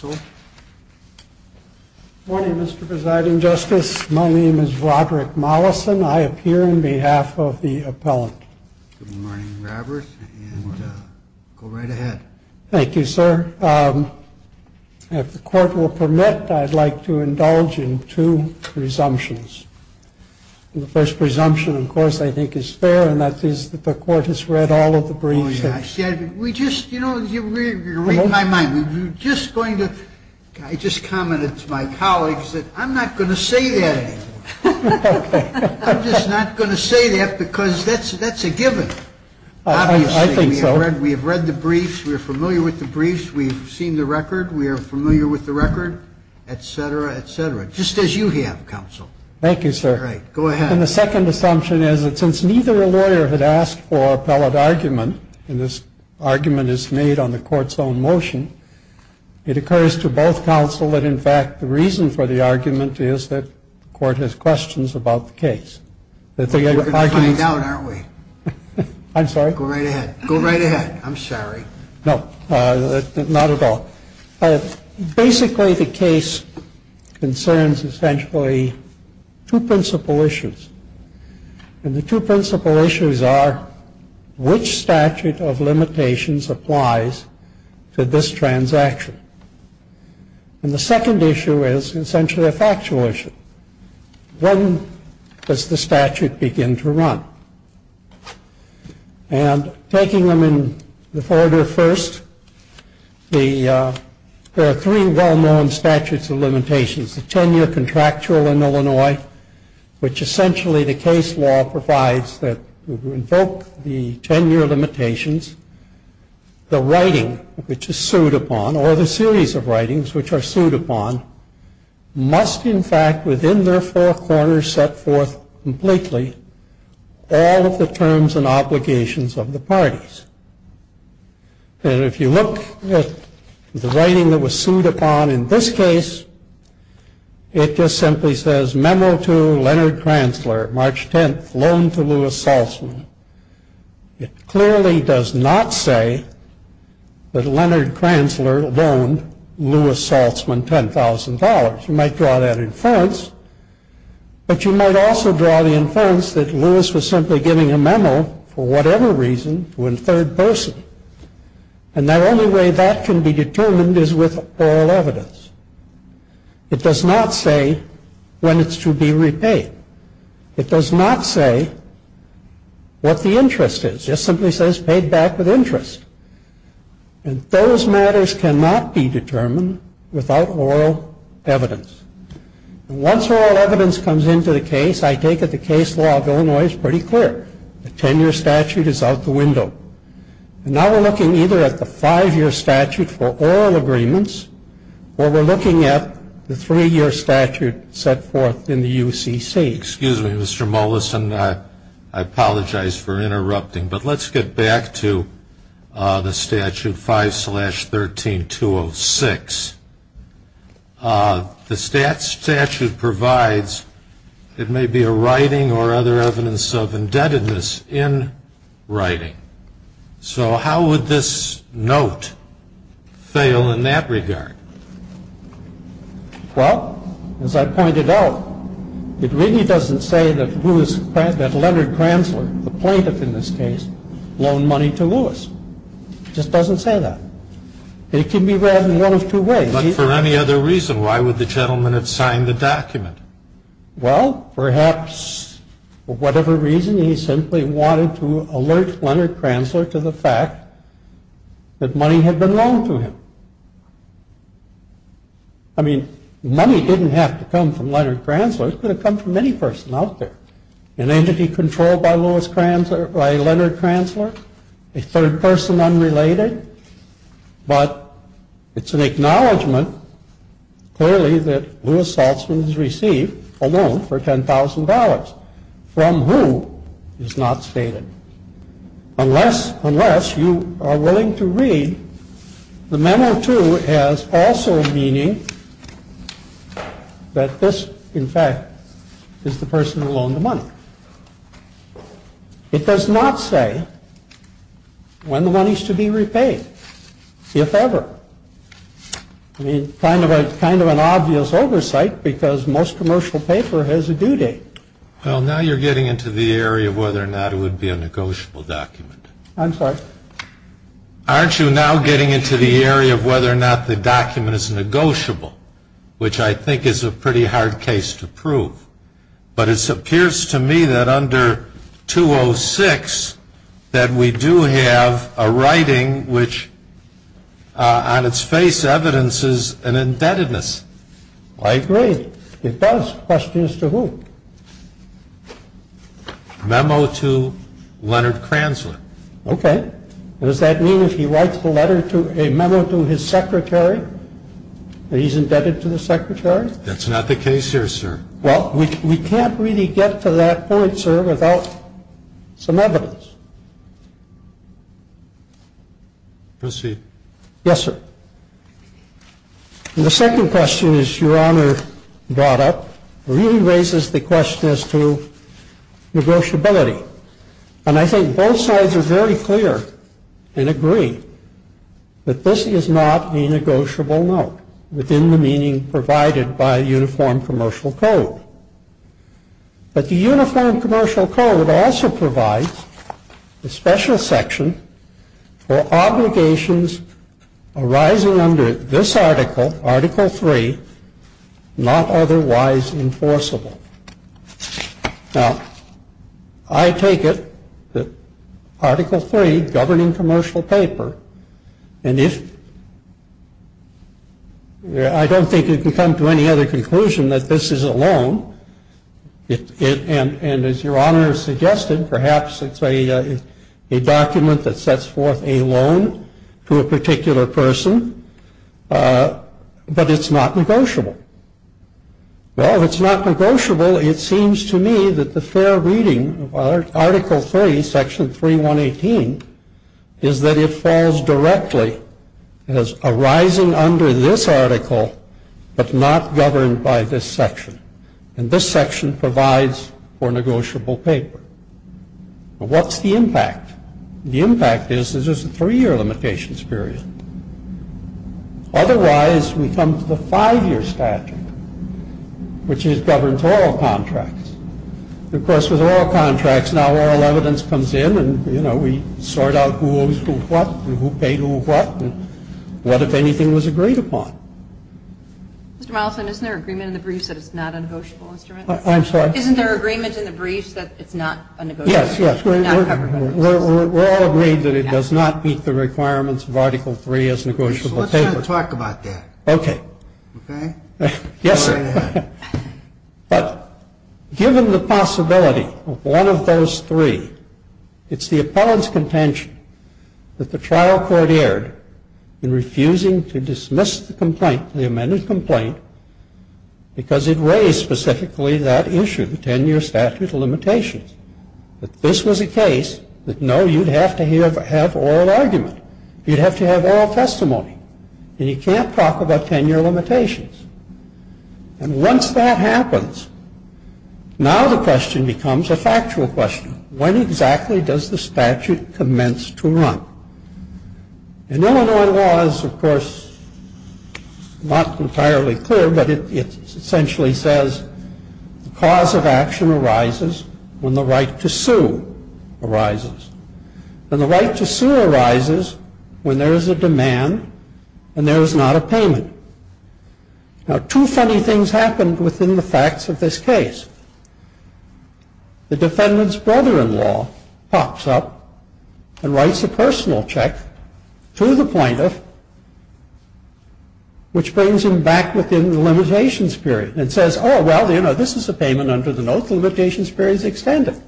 Good morning, Mr. Presiding Justice. My name is Roderick Mollison. I appear on behalf of the appellant. Good morning, Robert. Go right ahead. Thank you, sir. If the court will permit, I'd like to indulge in two presumptions. The first presumption, of course, I think is fair, and that is that the court has read all of the briefs. We just, you know, you read my mind. We're just going to, I just commented to my colleagues that I'm not going to say that. I'm just not going to say that because that's a given. I think so. We have read the briefs. We are familiar with the briefs. We've seen the record. We are familiar with the record, et cetera, et cetera, just as you have, counsel. Thank you, sir. All right. Go ahead. And the second assumption is that since neither a lawyer had asked for appellate argument, and this argument is made on the court's own motion, it occurs to both counsel that, in fact, the reason for the argument is that the court has questions about the case. We're going to find out, aren't we? I'm sorry? Go right ahead. Go right ahead. I'm sorry. No, not at all. Basically, the case concerns essentially two principal issues. And the two principal issues are which statute of limitations applies to this transaction. And the second issue is essentially a factual issue. When does the statute begin to run? And taking them in order first, there are three well-known statutes of limitations. The 10-year contractual in Illinois, which essentially the case law provides that invoke the 10-year limitations. The writing, which is sued upon, or the series of writings which are sued upon, must, in fact, within their four corners, set forth completely all of the terms and obligations of the parties. And if you look at the writing that was sued upon in this case, it just simply says, Memo to Leonard Kranzler, March 10th, loan to Lewis Saltzman. It clearly does not say that Leonard Kranzler loaned Lewis Saltzman $10,000. You might draw that inference, but you might also draw the inference that Lewis was simply giving a memo, for whatever reason, to a third person. And the only way that can be determined is with oral evidence. It does not say when it's to be repaid. It does not say what the interest is. It just simply says paid back with interest. And those matters cannot be determined without oral evidence. And once oral evidence comes into the case, I take it the case law of Illinois is pretty clear. The 10-year statute is out the window. And now we're looking either at the five-year statute for oral agreements, or we're looking at the three-year statute set forth in the UCC. Excuse me, Mr. Mollison. I apologize for interrupting, but let's get back to the Statute 5-13-206. The statute provides it may be a writing or other evidence of indebtedness in writing. So how would this note fail in that regard? Well, as I pointed out, it really doesn't say that Leonard Kranzler, the plaintiff in this case, loaned money to Lewis. It just doesn't say that. It can be read in one of two ways. But for any other reason, why would the gentleman have signed the document? Well, perhaps for whatever reason, he simply wanted to alert Leonard Kranzler to the fact that money had been loaned to him. I mean, money didn't have to come from Leonard Kranzler. It could have come from any person out there, an entity controlled by Leonard Kranzler, a third person unrelated. But it's an acknowledgment, clearly, that Lewis Saltzman has received a loan for $10,000 from who is not stated. Unless you are willing to read the memo 2 as also meaning that this, in fact, is the person who loaned the money. It does not say when the money is to be repaid, if ever. I mean, kind of an obvious oversight because most commercial paper has a due date. Well, now you're getting into the area of whether or not it would be a negotiable document. I'm sorry? Aren't you now getting into the area of whether or not the document is negotiable, which I think is a pretty hard case to prove? But it appears to me that under 206 that we do have a writing which on its face evidences an indebtedness. I agree. It does. The question is to whom? Memo to Leonard Kranzler. Okay. Does that mean if he writes a memo to his secretary that he's indebted to the secretary? That's not the case here, sir. Well, we can't really get to that point, sir, without some evidence. Proceed. Yes, sir. The second question is, Your Honor brought up, really raises the question as to negotiability. And I think both sides are very clear and agree that this is not a negotiable note within the meaning provided by the Uniform Commercial Code. But the Uniform Commercial Code also provides a special section for obligations arising under this article, Article 3, not otherwise enforceable. Now, I take it that Article 3, governing commercial paper, and if I don't think it can come to any other conclusion that this is a loan, and as Your Honor suggested, perhaps it's a document that sets forth a loan to a particular person, but it's not negotiable. Well, if it's not negotiable, it seems to me that the fair reading of Article 3, Section 3118, is that it falls directly as arising under this article, but not governed by this section. And this section provides for negotiable paper. What's the impact? The impact is there's a three-year limitations period. Otherwise, we come to the five-year statute, which is governed to all contracts. Of course, with all contracts, now oral evidence comes in, and, you know, we sort out who owes who what, and who paid who what, and what, if anything, was agreed upon. Mr. Mollison, isn't there agreement in the briefs that it's not a negotiable instrument? I'm sorry? Isn't there agreement in the briefs that it's not a negotiable instrument? Yes, yes. We're all agreed that it does not meet the requirements of Article 3 as negotiable paper. So let's try to talk about that. Okay. Okay? Yes. Go right ahead. But given the possibility of one of those three, it's the appellant's contention that the trial court erred in refusing to dismiss the complaint, the amended complaint, because it raised specifically that issue, the 10-year statute limitations, that this was a case that, no, you'd have to have oral argument. You'd have to have oral testimony. And you can't talk about 10-year limitations. And once that happens, now the question becomes a factual question. When exactly does the statute commence to run? And Illinois law is, of course, not entirely clear, but it essentially says the cause of action arises when the right to sue arises. And the right to sue arises when there is a demand and there is not a payment. Now, two funny things happened within the facts of this case. The defendant's brother-in-law pops up and writes a personal check to the plaintiff, which brings him back within the limitations period and says, oh, well, you know, this is a payment under the note. The limitations period is extended.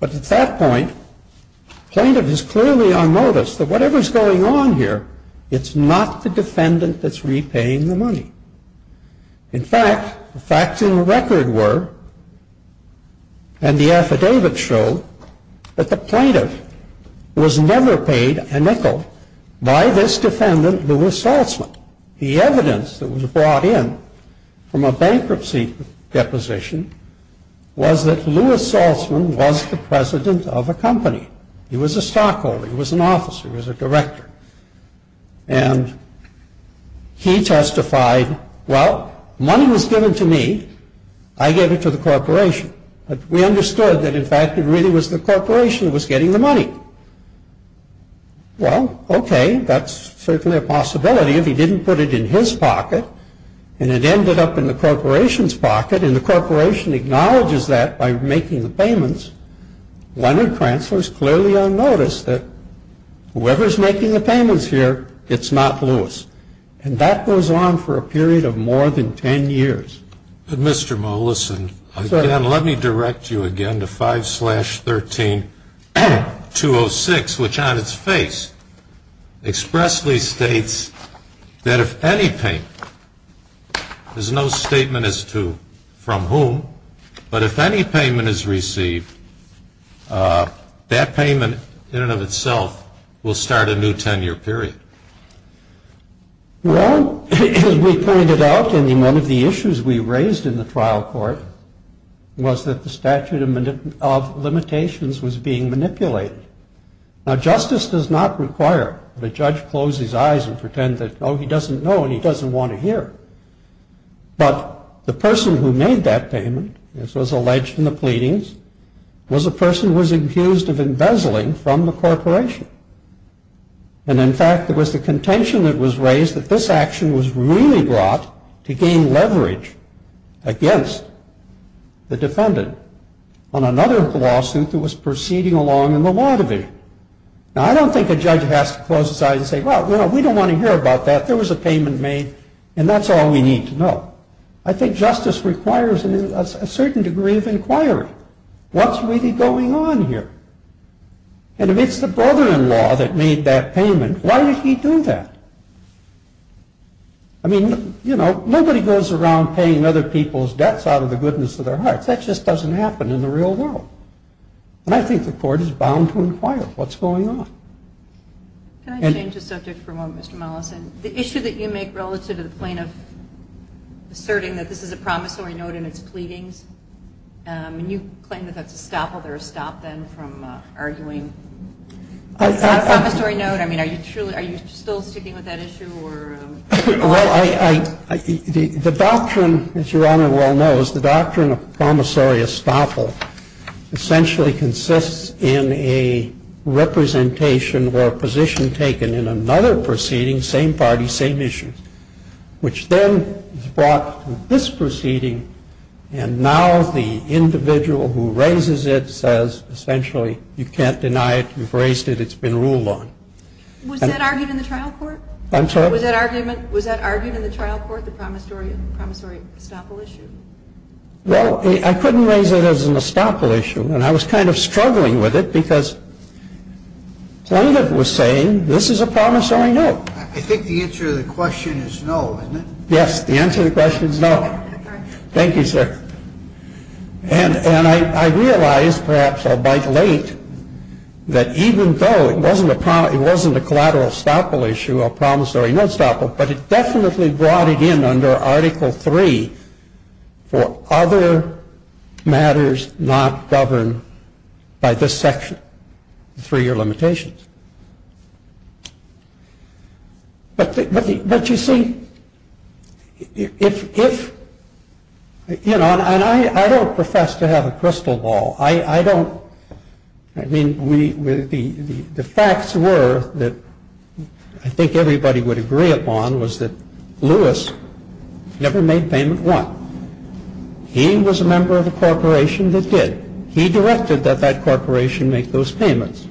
But at that point, the plaintiff is clearly on notice that whatever is going on here, it's not the defendant that's repaying the money. In fact, the facts in the record were, and the affidavits show, that the plaintiff was never paid a nickel by this defendant, Lewis Saltzman. The evidence that was brought in from a bankruptcy deposition was that Lewis Saltzman was the president of a company. He was a stockholder. He was an officer. He was a director. And he testified, well, money was given to me. I gave it to the corporation. But we understood that, in fact, it really was the corporation that was getting the money. Well, okay, that's certainly a possibility. If he didn't put it in his pocket and it ended up in the corporation's pocket and the corporation acknowledges that by making the payments, Leonard Krantzler is clearly on notice that whoever is making the payments here, it's not Lewis. And that goes on for a period of more than 10 years. Mr. Molison, again, let me direct you again to 5-13-206, which on its face expressly states that if any payment, there's no statement as to from whom, but if any payment is received, that payment in and of itself will start a new 10-year period. Well, as we pointed out in one of the issues we raised in the trial court, was that the statute of limitations was being manipulated. Now, justice does not require the judge close his eyes and pretend that, oh, he doesn't know and he doesn't want to hear. But the person who made that payment, as was alleged in the pleadings, was a person who was accused of embezzling from the corporation. And, in fact, it was the contention that was raised that this action was really brought to gain leverage against the defendant on another lawsuit that was proceeding along in the law division. Now, I don't think a judge has to close his eyes and say, well, we don't want to hear about that. There was a payment made, and that's all we need to know. I think justice requires a certain degree of inquiry. What's really going on here? And if it's the brother-in-law that made that payment, why did he do that? I mean, you know, nobody goes around paying other people's debts out of the goodness of their hearts. That just doesn't happen in the real world. And I think the court is bound to inquire what's going on. Can I change the subject for a moment, Mr. Mollison? The issue that you make relative to the plaintiff asserting that this is a promissory note in its pleadings, and you claim that that's estoppel. There was stop then from arguing a promissory note. I mean, are you still sticking with that issue? Well, the doctrine, as Your Honor well knows, the doctrine of promissory estoppel essentially consists in a representation or a position taken in another proceeding, which is the same party, same issue, which then is brought to this proceeding, and now the individual who raises it says essentially you can't deny it, you've raised it, it's been ruled on. Was that argued in the trial court? I'm sorry? Was that argued in the trial court, the promissory estoppel issue? Well, I couldn't raise it as an estoppel issue, and I was kind of struggling with it because plaintiff was saying this is a promissory note. I think the answer to the question is no, isn't it? Yes, the answer to the question is no. Thank you, sir. And I realized, perhaps I'll bite late, that even though it wasn't a collateral estoppel issue, a promissory note estoppel, but it definitely brought it in under Article III for other matters not governed by this section, the three-year limitations. But you see, if, you know, and I don't profess to have a crystal ball. I don't, I mean, the facts were that I think everybody would agree upon was that Lewis never made payment one. He was a member of the corporation that did. He directed that that corporation make those payments.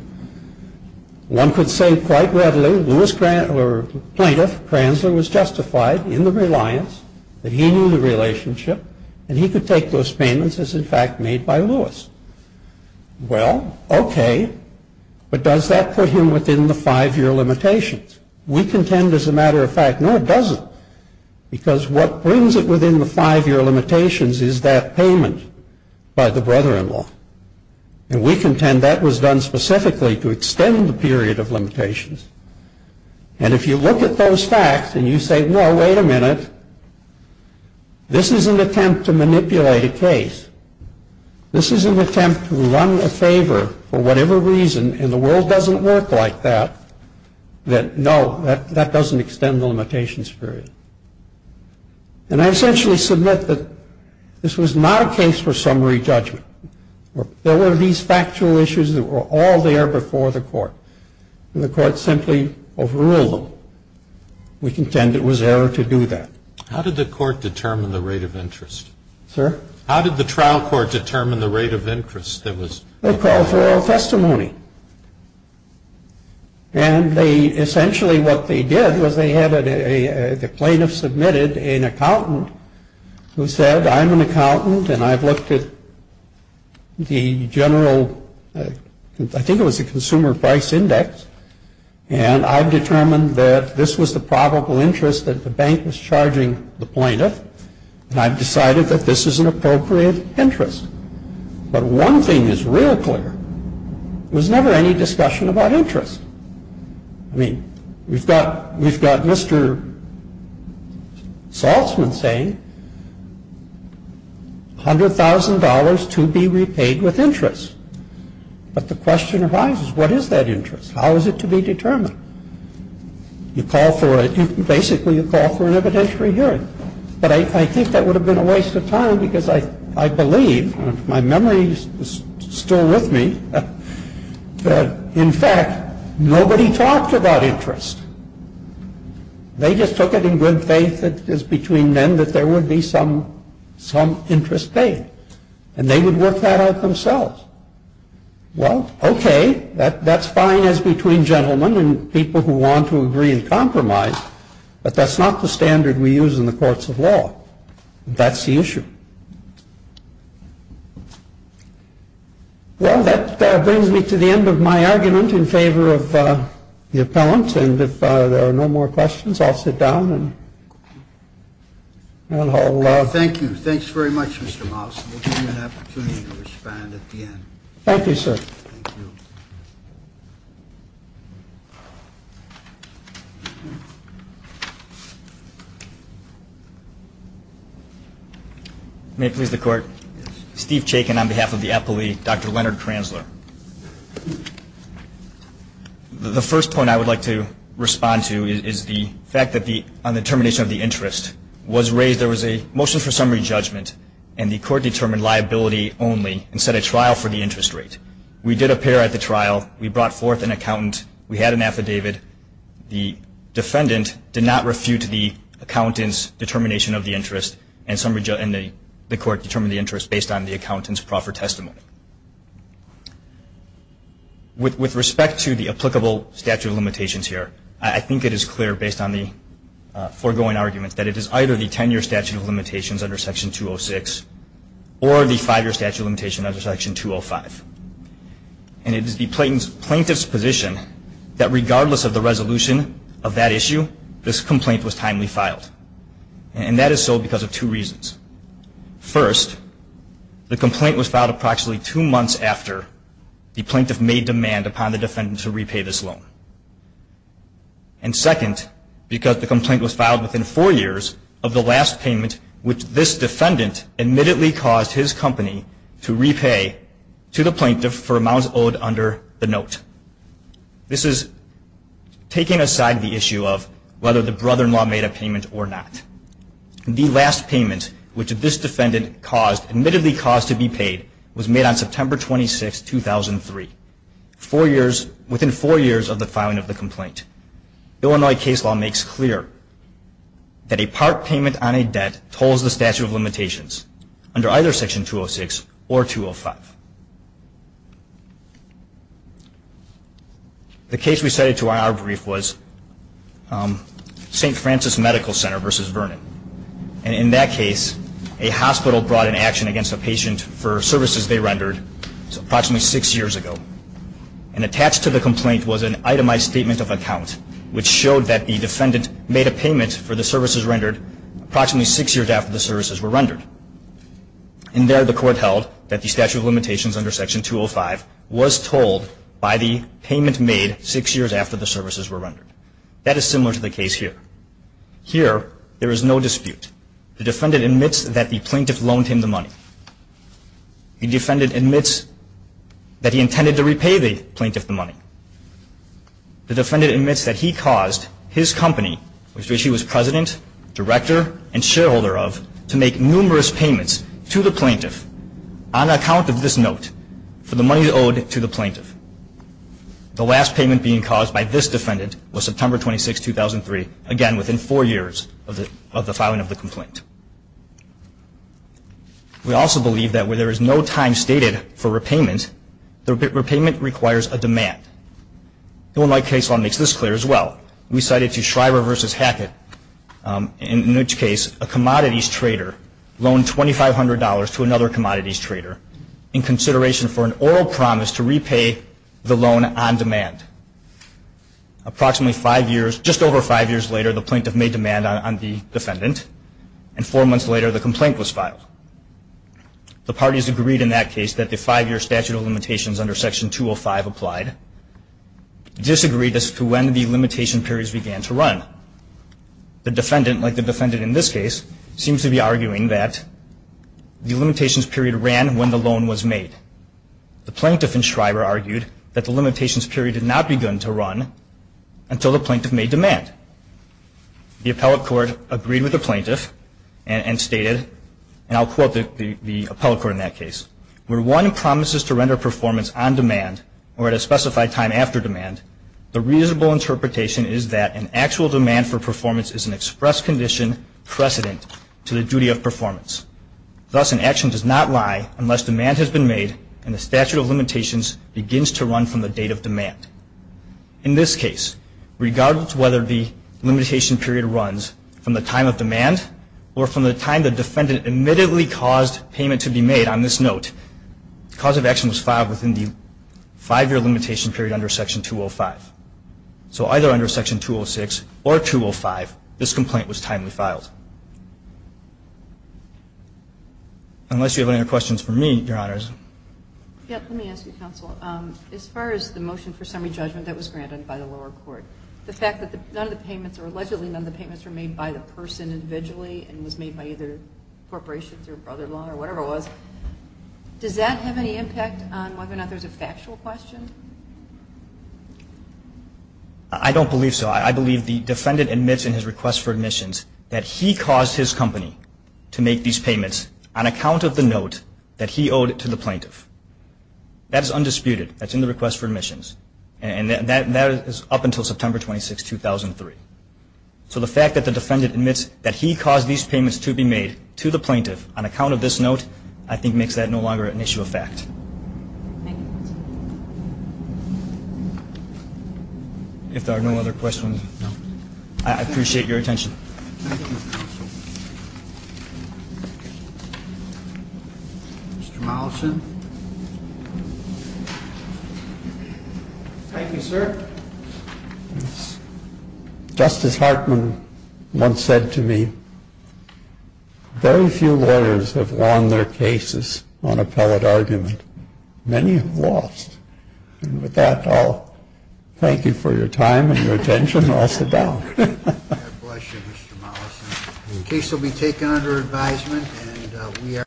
One could say quite readily, Lewis, or plaintiff, Kranzler was justified in the reliance that he knew the relationship, and he could take those payments as, in fact, made by Lewis. Well, okay, but does that put him within the five-year limitations? We contend, as a matter of fact, no, it doesn't, because what brings it within the five-year limitations is that payment by the brother-in-law. And we contend that was done specifically to extend the period of limitations. And if you look at those facts and you say, no, wait a minute, this is an attempt to manipulate a case. This is an attempt to run a favor for whatever reason, and the world doesn't work like that, then, no, that doesn't extend the limitations period. And I essentially submit that this was not a case for summary judgment. There were these factual issues that were all there before the court. And the court simply overruled them. We contend it was error to do that. How did the court determine the rate of interest? Sir? How did the trial court determine the rate of interest that was? They called for all testimony. And they essentially what they did was they had the plaintiff submitted an accountant who said, I'm an accountant, and I've looked at the general, I think it was the consumer price index, and I've determined that this was the probable interest that the bank was charging the plaintiff, and I've decided that this is an appropriate interest. But one thing is real clear. There was never any discussion about interest. I mean, we've got Mr. Saltzman saying $100,000 to be repaid with interest. But the question arises, what is that interest? How is it to be determined? You call for it. Basically, you call for an evidentiary hearing. But I think that would have been a waste of time because I believe, if my memory is still with me, that, in fact, nobody talked about interest. They just took it in good faith that it was between men that there would be some interest paid, and they would work that out themselves. Well, okay, that's fine as between gentlemen and people who want to agree and compromise, but that's not the standard we use in the courts of law. That's the issue. Thank you. Well, that brings me to the end of my argument in favor of the appellant. And if there are no more questions, I'll sit down and I'll. Thank you. Thanks very much, Mr. Moss. We'll give you an opportunity to respond at the end. Thank you, sir. Thank you. May it please the Court? Yes. Steve Chaykin on behalf of the appellee, Dr. Leonard Kranzler. The first point I would like to respond to is the fact that on the termination of the interest was raised, there was a motion for summary judgment, and the Court determined liability only and set a trial for the interest rate. We did appear at the trial. We brought forth an accountant. We had an affidavit. The defendant did not refute the accountant's determination of the interest, and the Court determined the interest based on the accountant's proffered testimony. With respect to the applicable statute of limitations here, I think it is clear, based on the foregoing arguments, that it is either the ten-year statute of limitations under Section 206 or the five-year statute of limitations under Section 205. And it is the plaintiff's position that regardless of the resolution of that issue, this complaint was timely filed. And that is so because of two reasons. First, the complaint was filed approximately two months after the plaintiff made demand upon the defendant to repay this loan. And second, because the complaint was filed within four years of the last payment which this defendant admittedly caused his company to repay to the plaintiff for amounts owed under the note. This is taking aside the issue of whether the brother-in-law made a payment or not. The last payment which this defendant admittedly caused to be paid was made on September 26, 2003, within four years of the filing of the complaint. Illinois case law makes clear that a part payment on a debt tolls the statute of limitations under either Section 206 or 205. The case we cited to our brief was St. Francis Medical Center v. Vernon. And in that case, a hospital brought an action against a patient for services they rendered approximately six years ago. And attached to the complaint was an itemized statement of account which showed that the defendant made a payment for the services rendered approximately six years after the services were rendered. And there the court held that the statute of limitations under Section 205 was told by the payment made six years after the services were rendered. That is similar to the case here. Here, there is no dispute. The defendant admits that the plaintiff loaned him the money. The defendant admits that he intended to repay the plaintiff the money. The defendant admits that he caused his company, which he was president, director, and shareholder of, to make numerous payments to the plaintiff on account of this note for the money owed to the plaintiff. The last payment being caused by this defendant was September 26, 2003, again within four years of the filing of the complaint. We also believe that where there is no time stated for repayment, the repayment requires a demand. The one-leg case law makes this clear as well. We cite it to Shriver v. Hackett. In each case, a commodities trader loaned $2,500 to another commodities trader in consideration for an oral promise to repay the loan on demand. Approximately five years, just over five years later, the plaintiff made demand on the defendant. And four months later, the complaint was filed. The parties agreed in that case that the five-year statute of limitations under Section 205 applied, disagreed as to when the limitation periods began to run. The defendant, like the defendant in this case, seems to be arguing that the limitations period ran when the loan was made. The plaintiff in Shriver argued that the limitations period had not begun to run until the plaintiff made demand. The appellate court agreed with the plaintiff and stated, and I'll quote the appellate court in that case, where one promises to render performance on demand or at a specified time after demand, the reasonable interpretation is that an actual demand for performance is an express condition precedent to the duty of performance. Thus, an action does not lie unless demand has been made In this case, regardless of whether the limitation period runs from the time of demand or from the time the defendant admittedly caused payment to be made, on this note, the cause of action was filed within the five-year limitation period under Section 205. So either under Section 206 or 205, this complaint was timely filed. Unless you have any other questions for me, Your Honors. Yes, let me ask you, Counsel. As far as the motion for summary judgment that was granted by the lower court, the fact that none of the payments, or allegedly none of the payments, were made by the person individually and was made by either corporations or brother-in-law or whatever it was, does that have any impact on whether or not there's a factual question? I don't believe so. I believe the defendant admits in his request for admissions that he caused his company to make these payments on account of the note that he owed to the plaintiff. That is undisputed. That's in the request for admissions. And that is up until September 26, 2003. So the fact that the defendant admits that he caused these payments to be made to the plaintiff on account of this note, I think makes that no longer an issue of fact. If there are no other questions, I appreciate your attention. Thank you, Counsel. Mr. Mollison. Thank you, sir. Justice Hartman once said to me, very few lawyers have won their cases on appellate argument. Many have lost. And with that, I'll thank you for your time and your attention. God bless you, Mr. Mollison. The case will be taken under advisement.